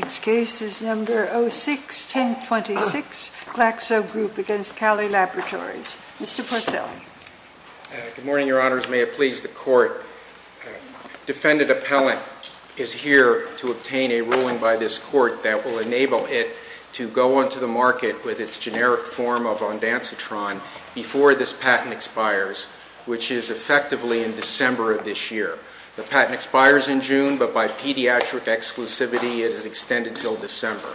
Next case is number 06-1026, Glaxo Group against Cali Laboratories. Mr. Porcelli. Good morning, your honors. May it please the court, defendant appellant is here to obtain a ruling by this court that will enable it to go onto the market with its generic form of Ondansetron before this patent expires, which is effectively in December of this year. The patent expires in June, but by pediatric exclusivity, it is extended until December.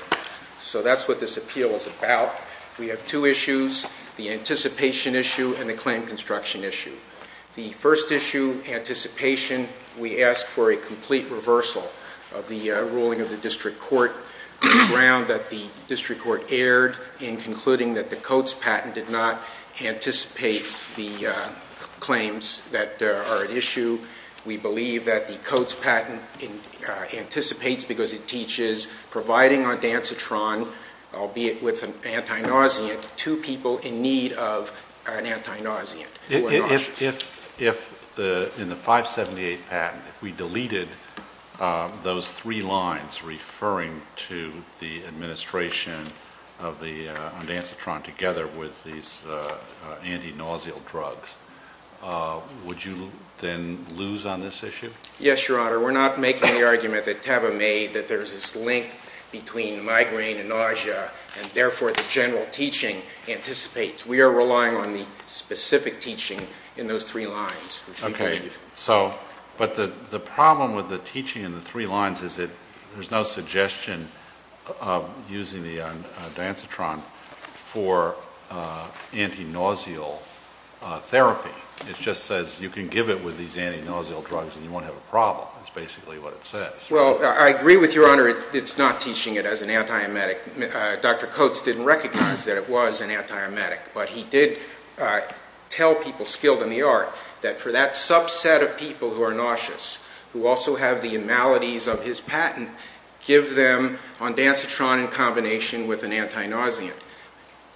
So that's what this appeal is about. We have two issues, the anticipation issue and the claim construction issue. The first issue, anticipation, we ask for a complete reversal of the ruling of the district court on the ground that the district court erred in concluding that the Coates patent did not anticipate the claims that are at issue. We believe that the Coates patent anticipates because it teaches providing Ondansetron, albeit with an anti-nauseant, to people in need of an anti-nauseant, who are nauseous. If in the 578 patent, if we deleted those three lines referring to the administration of the Ondansetron together with these anti-nauseal drugs, would you then lose on this issue? Yes, your honor. We're not making the argument that Teva made that there's this link between migraine and nausea, and therefore the general teaching anticipates. We are relying on the specific teaching in those three lines, which we believe. Okay. So, but the problem with the teaching in the three lines is that there's no suggestion of using the Ondansetron for anti-nauseal therapy. It just says you can give it with these anti-nauseal drugs and you won't have a problem, is basically what it says. Well, I agree with your honor, it's not teaching it as an anti-emetic. Dr. Coates didn't recognize that it was an anti-emetic, but he did tell people skilled in the art that for that subset of people who are nauseous, who also have the maladies of his patent, give them Ondansetron in combination with an anti-nauseant.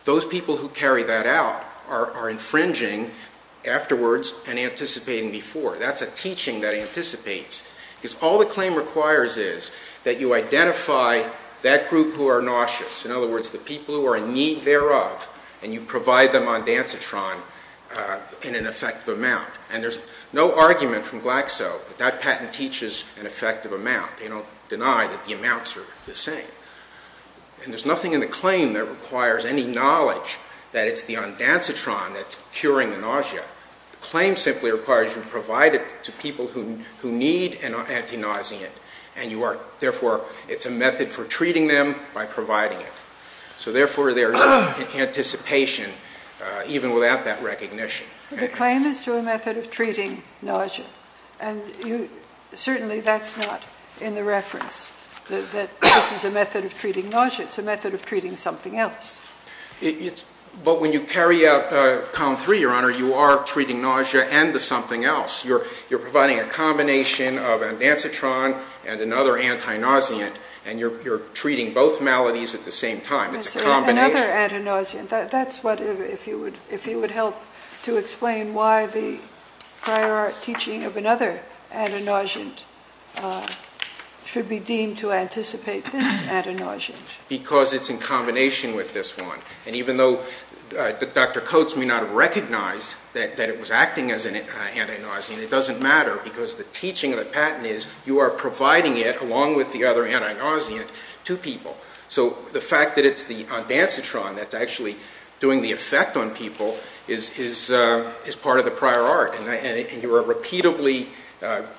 Those people who carry that out are infringing afterwards and anticipating before. That's a teaching that anticipates, because all the claim requires is that you identify that group who are nauseous, in other words, the people who are in need thereof, and you provide them Ondansetron in an effective amount. And there's no argument from Glaxo that that patent teaches an effective amount. They don't deny that the amounts are the same. And there's nothing in the claim that requires any knowledge that it's the Ondansetron that's curing the nausea. The claim simply requires you provide it to people who need an anti-nauseant, and therefore it's a method for treating them by providing it. So therefore there's anticipation, even without that recognition. The claim is to a method of treating nausea, and certainly that's not in the reference that this is a method of treating nausea, it's a method of treating something else. But when you carry out COM 3, Your Honor, you are treating nausea and the something else. You're providing a combination of Ondansetron and another anti-nauseant, and you're treating both maladies at the same time. It's a combination. Another anti-nauseant. That's what, if you would help to explain why the prior art teaching of another anti-nauseant should be deemed to anticipate this anti-nauseant. Because it's in combination with this one. And even though Dr. Coates may not have recognized that it was acting as an anti-nauseant, it doesn't matter because the teaching of the patent is you are providing it along with the other anti-nauseant to people. So the fact that it's the Ondansetron that's actually doing the effect on people is part of the prior art. And you are repeatedly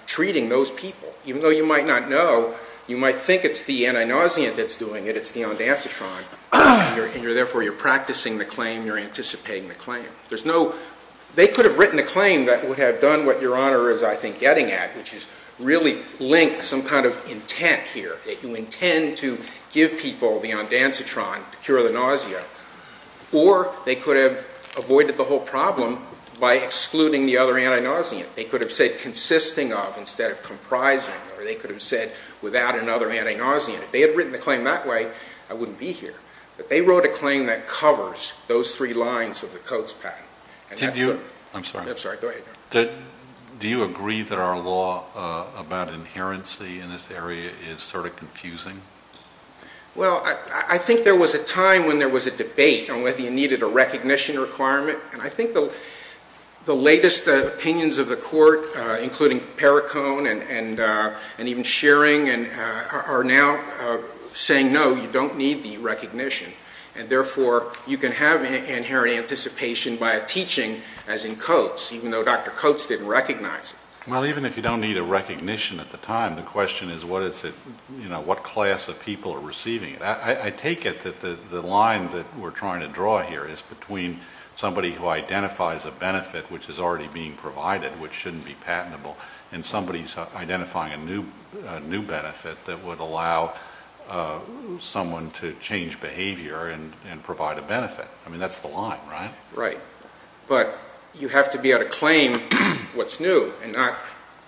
treating those people. Even though you might not know, you might think it's the anti-nauseant that's doing it, it's the Ondansetron. And therefore, you're practicing the claim, you're anticipating the claim. They could have written a claim that would have done what Your Honor is, I think, getting at, which is really link some kind of intent here. That you intend to give people the Ondansetron to cure the nausea. Or they could have avoided the whole problem by excluding the other anti-nauseant. They could have said consisting of, instead of comprising, or they could have said without another anti-nauseant. If they had written the claim that way, I wouldn't be here. But they wrote a claim that covers those three lines of the Coates patent. And that's it. I'm sorry. I'm sorry. Go ahead. Do you agree that our law about inherency in this area is sort of confusing? Well, I think there was a time when there was a debate on whether you needed a recognition requirement. And I think the latest opinions of the court, including Perricone and even Shearing, are now saying no, you don't need the recognition. And therefore, you can have inherent anticipation by a teaching, as in Coates, even though Dr. Coates didn't recognize it. Well, even if you don't need a recognition at the time, the question is what is it, you know, what class of people are receiving it. I take it that the line that we're trying to draw here is between somebody who identifies a benefit which is already being provided, which shouldn't be patentable, and somebody who's identifying a new benefit that would allow someone to change behavior and provide a benefit. I mean, that's the line, right? Right. But you have to be able to claim what's new and not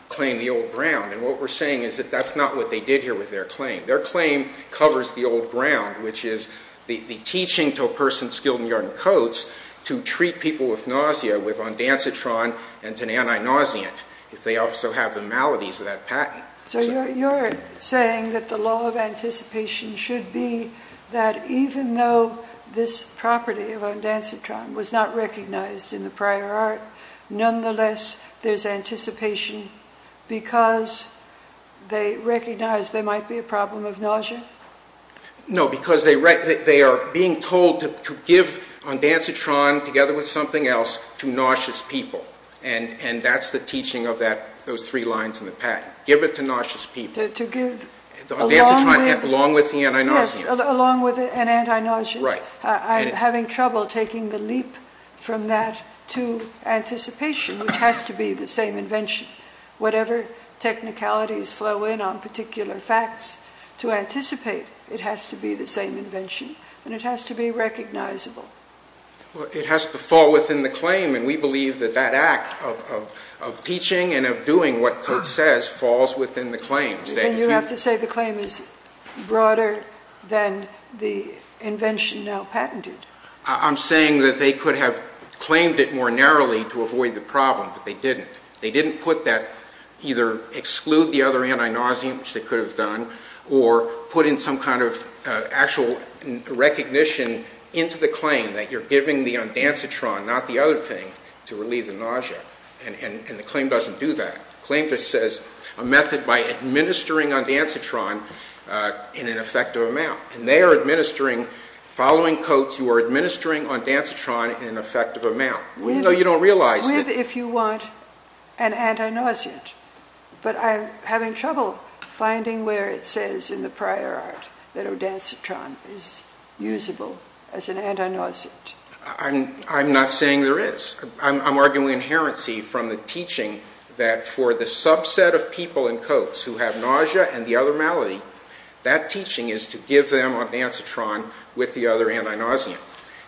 claim the old ground. And what we're saying is that that's not what they did here with their claim. Their claim covers the old ground, which is the teaching to a person skilled in yarn and Coates to treat people with nausea with Ondansetron and to an anti-nauseant, if they also have the maladies of that patent. So you're saying that the law of anticipation should be that even though this property of Ondansetron was not recognized in the prior art, nonetheless, there's anticipation because they recognize there might be a problem of nausea? No, because they are being told to give Ondansetron together with something else to nauseous people. And that's the teaching of those three lines in the patent. Give it to nauseous people. To give along with the anti-nauseant. Yes, along with an anti-nauseant. Right. I'm having trouble taking the leap from that to anticipation, which has to be the same invention. Whatever technicalities flow in on particular facts to anticipate, it has to be the same invention. And it has to be recognizable. It has to fall within the claim, and we believe that that act of teaching and of doing what Coates says falls within the claims. Then you have to say the claim is broader than the invention now patented. I'm saying that they could have claimed it more narrowly to avoid the problem, but they didn't. They didn't put that, either exclude the other anti-nauseant, which they could have done, or put in some kind of actual recognition into the claim that you're giving the Ondansetron, not the other thing, to relieve the nausea. And the claim doesn't do that. The claim just says, a method by administering Ondansetron in an effective amount. And they are administering, following Coates, you are administering Ondansetron in an effective amount. With, if you want, an anti-nauseant. But I'm having trouble finding where it says in the prior art that Ondansetron is usable as an anti-nauseant. I'm not saying there is. I'm arguing inherency from the teaching that for the subset of people in Coates who have nausea and the other malady, that teaching is to give them Ondansetron with the other anti-nauseant.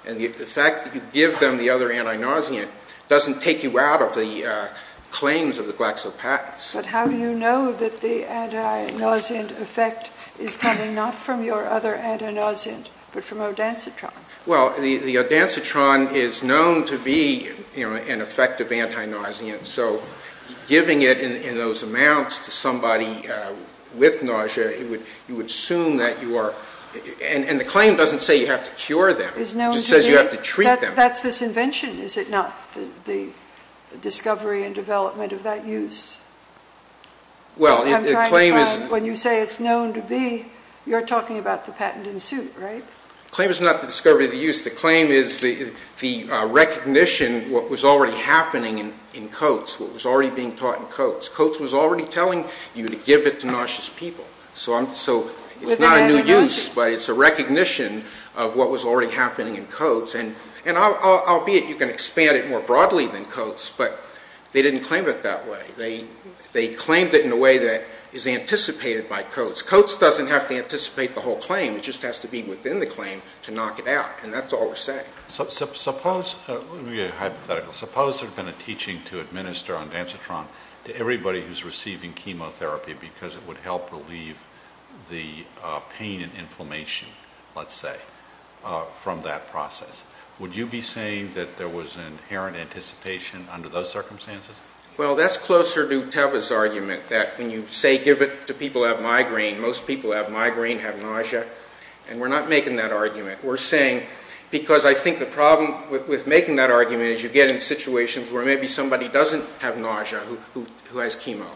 And the fact that you give them the other anti-nauseant doesn't take you out of the claims of the GlaxoPats. But how do you know that the anti-nauseant effect is coming not from your other anti-nauseant, but from Ondansetron? Well, the Ondansetron is known to be an effective anti-nauseant, so giving it in those amounts to somebody with nausea, you would assume that you are, and the claim doesn't say you have to cure them. It just says you have to treat them. That's this invention. Is it not? The discovery and development of that use? Well, the claim is... When you say it's known to be, you're talking about the patent in suit, right? The claim is not the discovery of the use. The claim is the recognition of what was already happening in Coates, what was already being taught in Coates. Coates was already telling you to give it to nauseous people, so it's not a new use, but it's a recognition of what was already happening in Coates, and albeit you can expand it more broadly than Coates, but they didn't claim it that way. They claimed it in a way that is anticipated by Coates. Coates doesn't have to anticipate the whole claim. It just has to be within the claim to knock it out, and that's all we're saying. Suppose... Let me be hypothetical. Suppose there had been a teaching to administer Ondansetron to everybody who's receiving chemotherapy because it would help relieve the pain and inflammation, let's say, from that process. Would you be saying that there was an inherent anticipation under those circumstances? Well, that's closer to Teva's argument that when you say give it to people who have migraine, most people who have migraine have nausea, and we're not making that argument. We're saying... Because I think the problem with making that argument is you get in situations where maybe somebody doesn't have nausea who has chemo.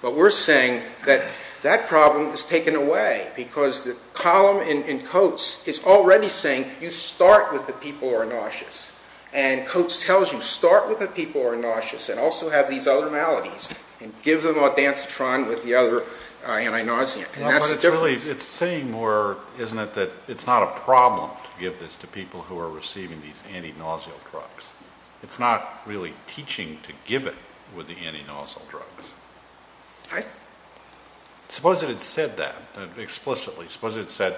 But we're saying that that problem is taken away because the column in Coates is already saying you start with the people who are nauseous, and Coates tells you start with the people who are nauseous and also have these other maladies and give them Ondansetron with the other anti-nauseant. And that's the difference. Well, but it's really... It's saying more, isn't it, that it's not a problem to give this to people who are receiving these anti-nauseal drugs. It's not really teaching to give it with the anti-nauseal drugs. Suppose it had said that explicitly. Suppose it said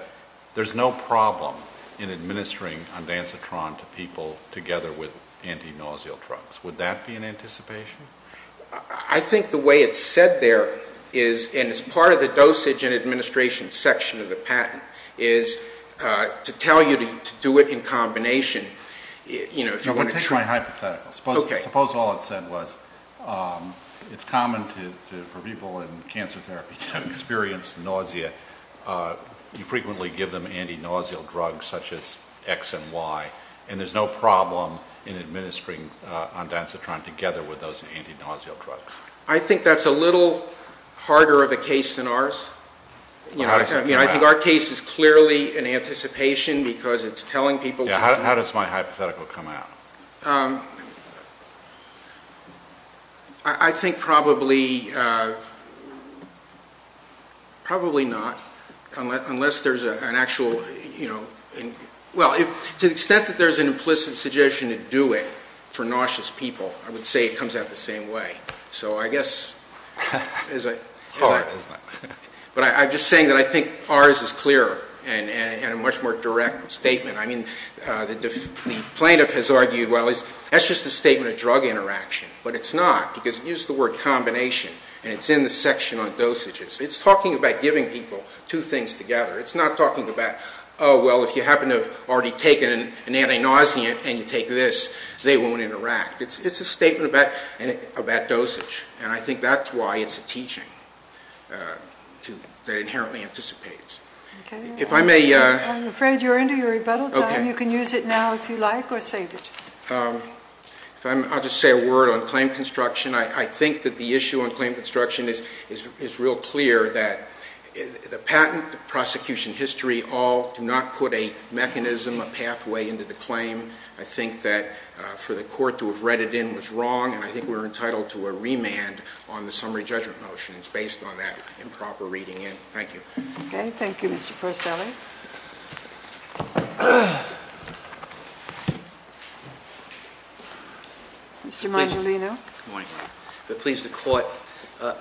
there's no problem in administering Ondansetron to people together with anti-nauseal drugs. Would that be an anticipation? I think the way it's said there is, and it's part of the dosage and administration section of the patent, is to tell you to do it in combination, you know, if you want to... I'm going to take my hypothetical. Okay. Suppose all it said was it's common for people in cancer therapy to experience nausea. You frequently give them anti-nauseal drugs such as X and Y, and there's no problem in administering Ondansetron together with those anti-nauseal drugs. I think that's a little harder of a case than ours. How does it come out? I think our case is clearly an anticipation because it's telling people... Yeah, how does my hypothetical come out? I think probably not, unless there's an actual, you know, well, to the extent that there's an implicit suggestion to do it for nauseous people, I would say it comes out the same way. So I guess... It's hard, isn't it? But I'm just saying that I think ours is clearer and a much more direct statement. I mean, the plaintiff has argued, well, that's just a statement of drug interaction. But it's not, because use the word combination, and it's in the section on dosages. It's talking about giving people two things together. It's not talking about, oh, well, if you happen to have already taken an anti-nauseant and you take this, they won't interact. It's a statement about dosage. And I think that's why it's a teaching that inherently anticipates. If I may... I'm afraid you're into your rebuttal time. You can use it now if you like or save it. I'll just say a word on claim construction. I think that the issue on claim construction is real clear that the patent, the prosecution history all do not put a mechanism, a pathway into the claim. I think that for the court to have read it in was wrong, and I think we're entitled to a remand on the summary judgment motion. It's based on that improper reading in. Thank you. Okay. Thank you, Mr. Porcelli. Mr. Mangelino. Good morning, Your Honor. I'm pleased to court.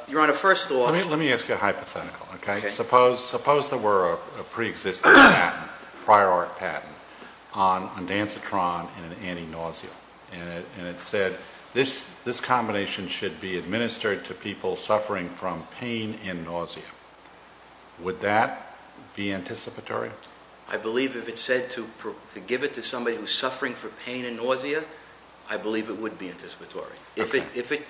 Your Honor, first off... Let me ask you a hypothetical, okay? Okay. Suppose there were a preexistent patent, prior art patent, on Andansitron and an anti-nauseant. And it said, this combination should be administered to people suffering from pain and nausea. Would that be anticipatory? I believe if it said to give it to somebody who's suffering from pain and nausea, I believe it would be anticipatory. If it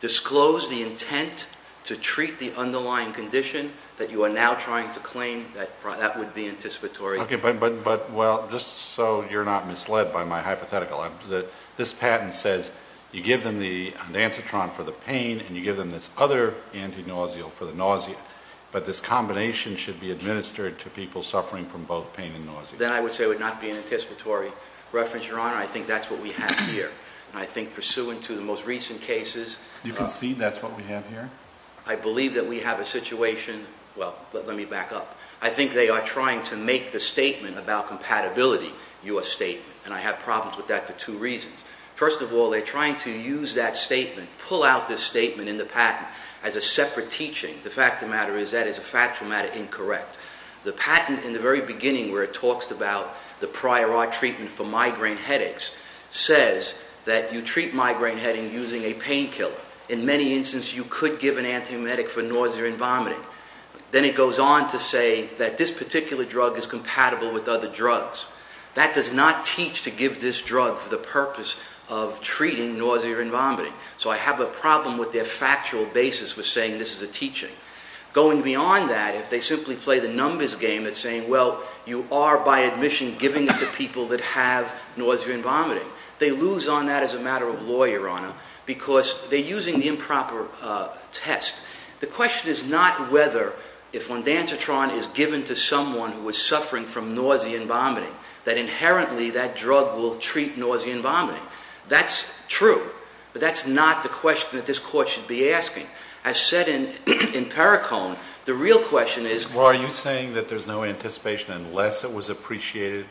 disclosed the intent to treat the underlying condition that you are now trying to claim, that would be anticipatory. Okay. But, well, just so you're not misled by my hypothetical, this patent says you give them the Andansitron for the pain, and you give them this other anti-nausea for the nausea. But this combination should be administered to people suffering from both pain and nausea. Then I would say it would not be an anticipatory reference, Your Honor. I think that's what we have here. I think pursuant to the most recent cases... You can see that's what we have here? I believe that we have a situation, well, let me back up. I think they are trying to make the statement about compatibility your statement, and I have problems with that for two reasons. First of all, they're trying to use that statement, pull out this statement in the patent as a separate teaching. The fact of the matter is that is a factual matter incorrect. The patent, in the very beginning where it talks about the prior art treatment for migraine headaches, says that you treat migraine headache using a painkiller. In many instances, you could give an antiemetic for nausea and vomiting. Then it goes on to say that this particular drug is compatible with other drugs. That does not teach to give this drug for the purpose of treating nausea and vomiting. So I have a problem with their factual basis for saying this is a teaching. Going beyond that, if they simply play the numbers game and saying, well, you are by admission giving it to people that have nausea and vomiting. They lose on that as a matter of law, Your Honor, because they're using the improper test. The question is not whether, if ondansetron is given to someone who is suffering from nausea and vomiting, that inherently that drug will treat nausea and vomiting. That's true, but that's not the question that this court should be asking. As said in Perricone, the real question is- Well, are you saying that there's no anticipation unless it was appreciated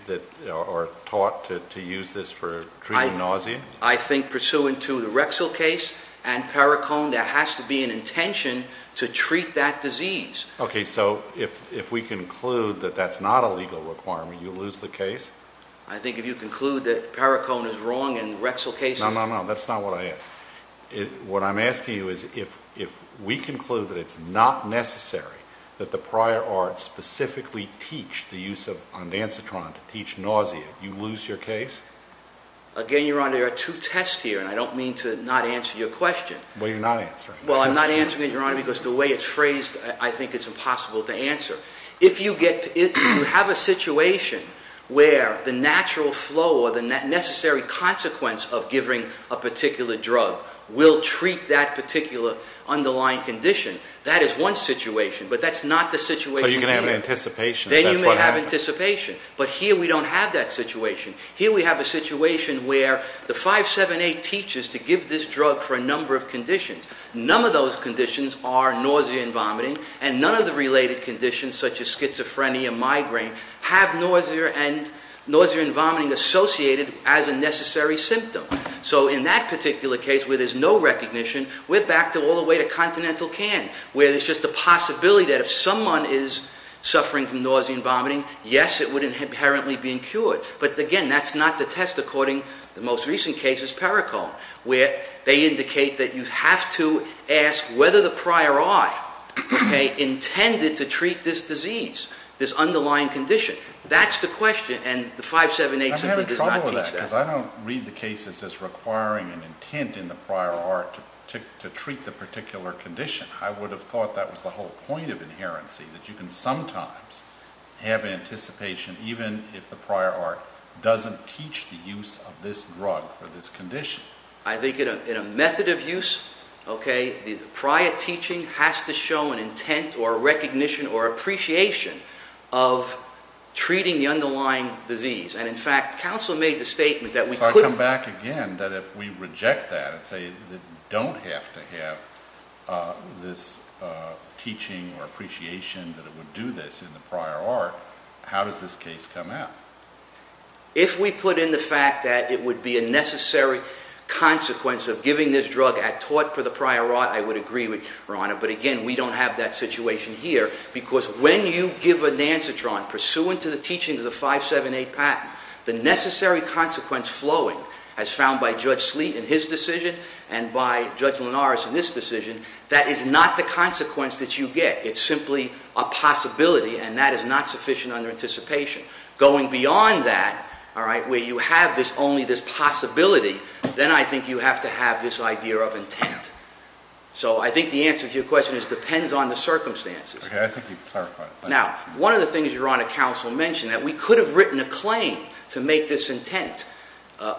or taught to use this for treating nausea? I think pursuant to the Rexall case and Perricone, there has to be an intention to treat that disease. Okay, so if we conclude that that's not a legal requirement, you lose the case? I think if you conclude that Perricone is wrong and Rexall case- No, no, no, that's not what I asked. What I'm asking you is if we conclude that it's not necessary that the prior art specifically teach the use of ondansetron to teach nausea, you lose your case? Again, Your Honor, there are two tests here, and I don't mean to not answer your question. Well, you're not answering it. Well, I'm not answering it, Your Honor, because the way it's phrased, I think it's impossible to answer. If you have a situation where the natural flow or the necessary consequence of giving a particular drug will treat that particular underlying condition, that is one situation, but that's not the situation- So you're going to have an anticipation, so that's what happened. Then you may have anticipation, but here we don't have that situation. Here we have a situation where the 578 teaches to give this drug for a number of conditions. None of those conditions are nausea and vomiting, and none of the related conditions, such as schizophrenia, migraine, have nausea and vomiting associated as a necessary symptom. So in that particular case, where there's no recognition, we're back all the way to continental can, where there's just a possibility that if someone is suffering from nausea and vomiting, yes, it would inherently be cured. But again, that's not the test, according to the most recent cases, Perricone, where they indicate that you have to ask whether the prior art intended to treat this disease, this underlying condition. That's the question, and the 578 simply does not teach that. I'm having trouble with that, because I don't read the cases as requiring an intent in the prior art to treat the particular condition. I would have thought that was the whole point of inherency, that you can sometimes have anticipation, even if the prior art doesn't teach the use of this drug for this condition. I think in a method of use, okay, the prior teaching has to show an intent or recognition or appreciation of treating the underlying disease. And in fact, counsel made the statement that we couldn't- So I come back again, that if we reject that and say that we don't have to have this teaching or appreciation that it would do this in the prior art, how does this case come out? If we put in the fact that it would be a necessary consequence of giving this drug at tort for the prior art, I would agree with Your Honor. But again, we don't have that situation here, because when you give a Nancitron pursuant to the teaching of the 578 patent, the necessary consequence flowing as found by Judge Sleet in his decision and by Judge Linares in this decision, that is not the consequence that you get. It's simply a possibility, and that is not sufficient under anticipation. Going beyond that, all right, where you have only this possibility, then I think you have to have this idea of intent. So I think the answer to your question is depends on the circumstances. Okay, I think you've clarified it. Now, one of the things Your Honor, counsel mentioned, that we could have written a claim to make this intent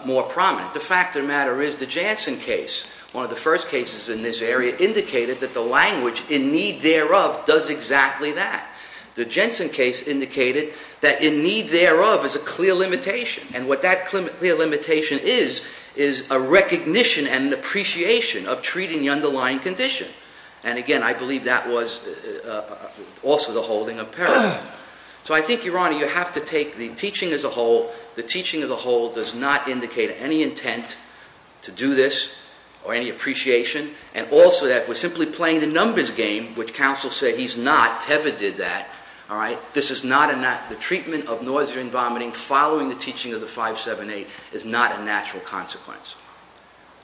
more prominent. The fact of the matter is, the Janssen case, one of the first cases in this area, indicated that the language in need thereof does exactly that. The Janssen case indicated that in need thereof is a clear limitation. And what that clear limitation is, is a recognition and an appreciation of treating the underlying condition. And again, I believe that was also the holding of peril. So I think, Your Honor, you have to take the teaching as a whole. The teaching as a whole does not indicate any intent to do this or any appreciation. And also that we're simply playing the numbers game, which counsel said he's not, Teva did that, all right? This is not, the treatment of nausea and vomiting following the teaching of the 578 is not a natural consequence.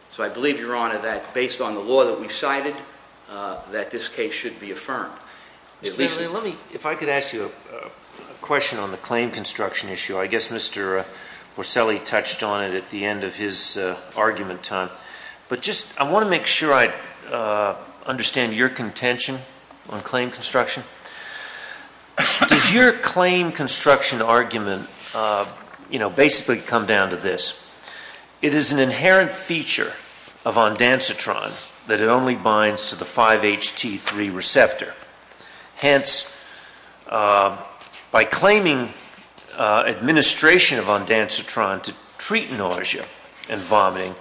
So I believe, Your Honor, that based on the law that we've cited, that this case should be affirmed. At least- Let me, if I could ask you a question on the claim construction issue. I guess Mr. Porcelli touched on it at the end of his argument time. But just, I want to make sure I understand your contention on claim construction. Does your claim construction argument basically come down to this? It is an inherent feature of ondansetron that it only binds to the 5-HT3 receptor. Hence, by claiming administration of ondansetron to treat nausea and vomiting,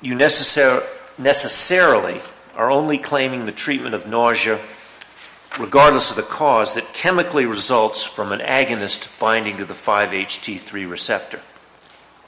you necessarily are only claiming the treatment of nausea, regardless of the cause, that chemically results from an agonist binding to the 5-HT3 receptor.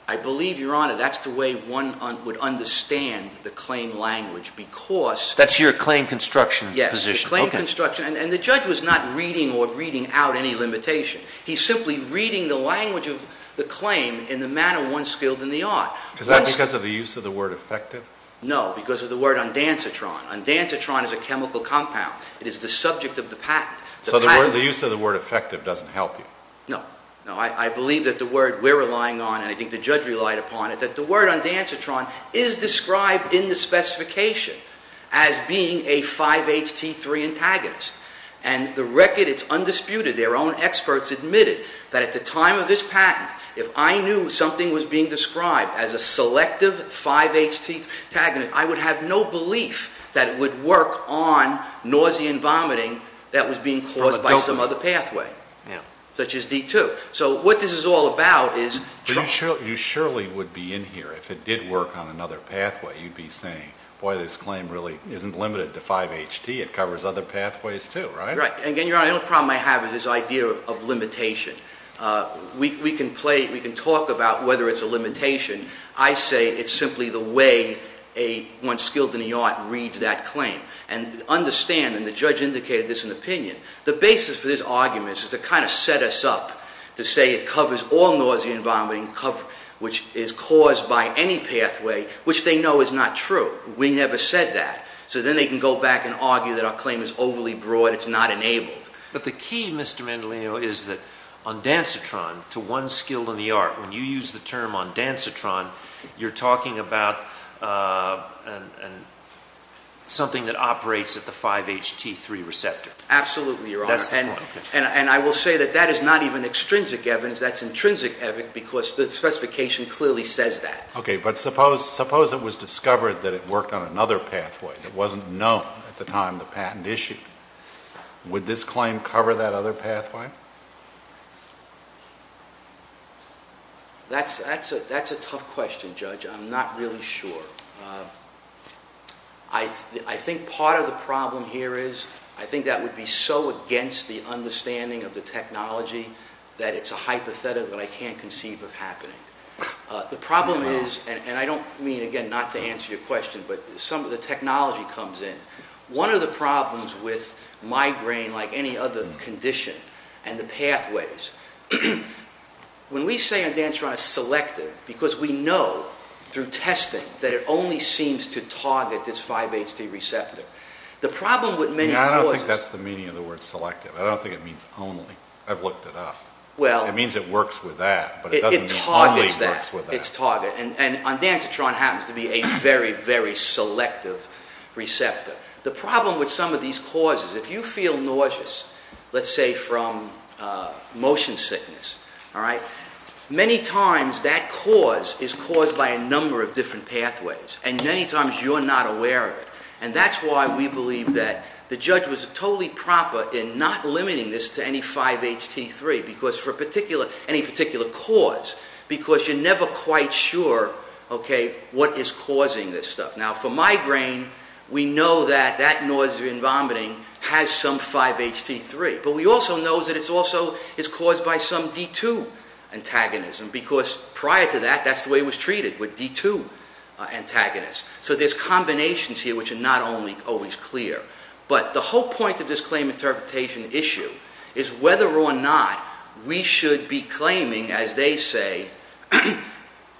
I believe, Your Honor, that's the way one would understand the claim language, because- That's your claim construction position. Yes, the claim construction, and the judge was not reading or reading out any limitation. He's simply reading the language of the claim in the manner one's skilled in the art. Is that because of the use of the word effective? No, because of the word ondansetron. Ondansetron is a chemical compound. It is the subject of the patent. So the use of the word effective doesn't help you? No, no, I believe that the word we're relying on, and I think the judge relied upon it, that the word ondansetron is described in the specification as being a 5-HT3 antagonist. And the record, it's undisputed, their own experts admitted that at the time of this patent, if I knew something was being described as a selective 5-HT3 antagonist, I would have no belief that it would work on nausea and vomiting that was being caused by some other pathway, such as D2. So what this is all about is- You surely would be in here, if it did work on another pathway, you'd be saying, boy, this claim really isn't limited to 5-HT, it covers other pathways too, right? Right, and again, your honor, the only problem I have is this idea of limitation. We can talk about whether it's a limitation. I say it's simply the way one skilled in the art reads that claim. And understand, and the judge indicated this in opinion, the basis for this argument is to kind of set us up to say it covers all nausea and vomiting, which is caused by any pathway, which they know is not true. We never said that. So then they can go back and argue that our claim is overly broad, it's not enabled. But the key, Mr. Mendolino, is that ondansetron to one skilled in the art, when you use the term ondansetron, you're talking about something that operates at the 5-HT3 receptor. Absolutely, your honor. That's the point. And I will say that that is not even extrinsic evidence, that's intrinsic evidence because the specification clearly says that. Okay, but suppose it was discovered that it worked on another pathway that wasn't That's a tough question, Judge, I'm not really sure. I think part of the problem here is, I think that would be so against the understanding of the technology that it's a hypothetical that I can't conceive of happening. The problem is, and I don't mean, again, not to answer your question, but some of the technology comes in. One of the problems with migraine, like any other condition, and the pathways. When we say ondansetron is selective, because we know, through testing, that it only seems to target this 5-HT receptor. The problem with many causes- I don't think that's the meaning of the word selective. I don't think it means only. I've looked it up. It means it works with that, but it doesn't mean only works with that. It targets that, it's target. And ondansetron happens to be a very, very selective receptor. The problem with some of these causes, if you feel nauseous, let's say from motion sickness, all right? Many times that cause is caused by a number of different pathways, and many times you're not aware of it. And that's why we believe that the judge was totally proper in not limiting this to any 5-HT3, because for any particular cause, because you're never quite sure, okay, what is causing this stuff. Now for migraine, we know that that nausea and vomiting has some 5-HT3. But we also know that it's also caused by some D2 antagonism, because prior to that, that's the way it was treated, with D2 antagonists. So there's combinations here which are not always clear. But the whole point of this claim interpretation issue is whether or not we should be claiming, as they say,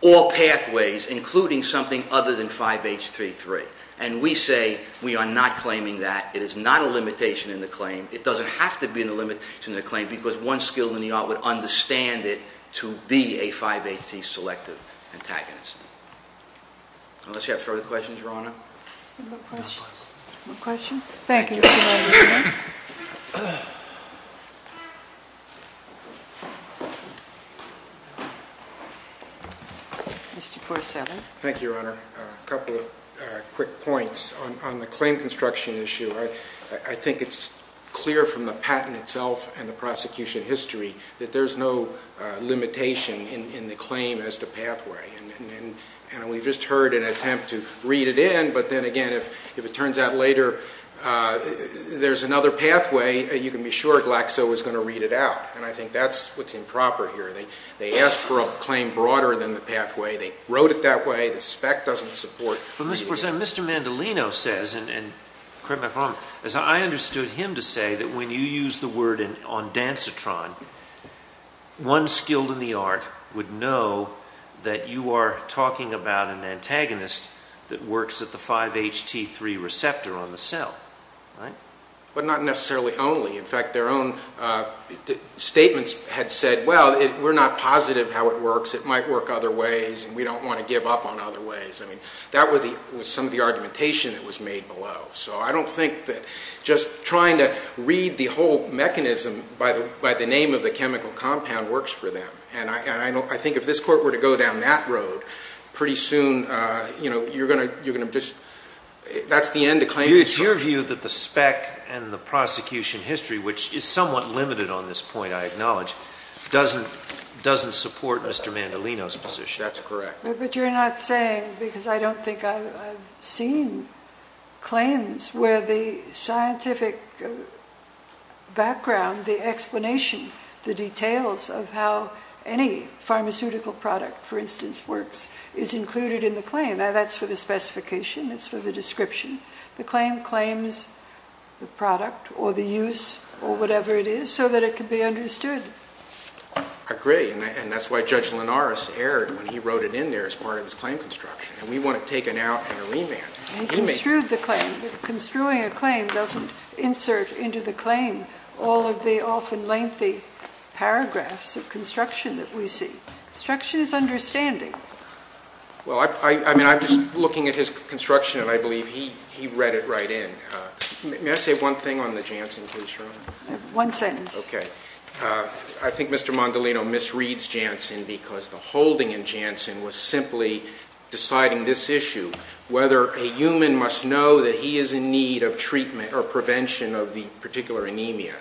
all pathways, including something other than 5-HT3. And we say, we are not claiming that. It is not a limitation in the claim. It doesn't have to be a limitation in the claim, because one skilled in the art would understand it to be a 5-HT selective antagonist. Unless you have further questions, Your Honor? No questions? No questions? Thank you. Mr. Porcella. Thank you, Your Honor. A couple of quick points. On the claim construction issue, I think it's clear from the patent itself and the prosecution history that there's no limitation in the claim as to pathway. And we've just heard an attempt to read it in, but then again, if it turns out later there's another pathway, you can be sure Glaxo is going to read it out. And I think that's what's improper here. They asked for a claim broader than the pathway. They wrote it that way. The spec doesn't support- But Mr. Porcella, Mr. Mandolino says, and correct me if I'm wrong, as I understood him to say that when you use the word ondansetron, one skilled in the art would know that you are talking about an antagonist that works at the 5-HT3 receptor on the cell, right? But not necessarily only. In fact, their own statements had said, well, we're not positive how it works. It might work other ways and we don't want to give up on other ways. I mean, that was some of the argumentation that was made below. So I don't think that just trying to read the whole mechanism by the name of the chemical compound works for them. And I think if this court were to go down that road, pretty soon, you know, you're going to just, that's the end of claiming- It's your view that the spec and the prosecution history, which is somewhat limited on this point, I acknowledge, doesn't support Mr. Mandolino's position. That's correct. But you're not saying, because I don't think I've seen claims where the scientific background, the explanation, the details of how any pharmaceutical product, for instance, works, is included in the claim. Now, that's for the specification. That's for the description. The claim claims the product or the use or whatever it is so that it can be understood. I agree. And that's why Judge Linares erred when he wrote it in there as part of his claim construction. And we want it taken out in a remand. He construed the claim. Construing a claim doesn't insert into the claim all of the often lengthy paragraphs of construction that we see. Construction is understanding. Well, I mean, I'm just looking at his construction, and I believe he read it right in. May I say one thing on the Janssen case, Your Honor? One sentence. Okay. I think Mr. Mandolino misreads Janssen because the holding in Janssen was simply deciding this issue. Whether a human must know that he is in need of treatment or prevention of the particular anemia.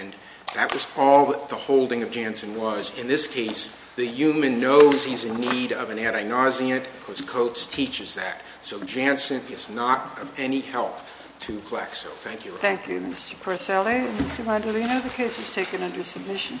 And that was all that the holding of Janssen was. In this case, the human knows he's in need of an adenozyant. Of course, Coates teaches that. So Janssen is not of any help to Glaxo. Thank you, Your Honor. Thank you, Mr. Porcelli. And Mr. Mandolino, the case was taken under submission. Thank you.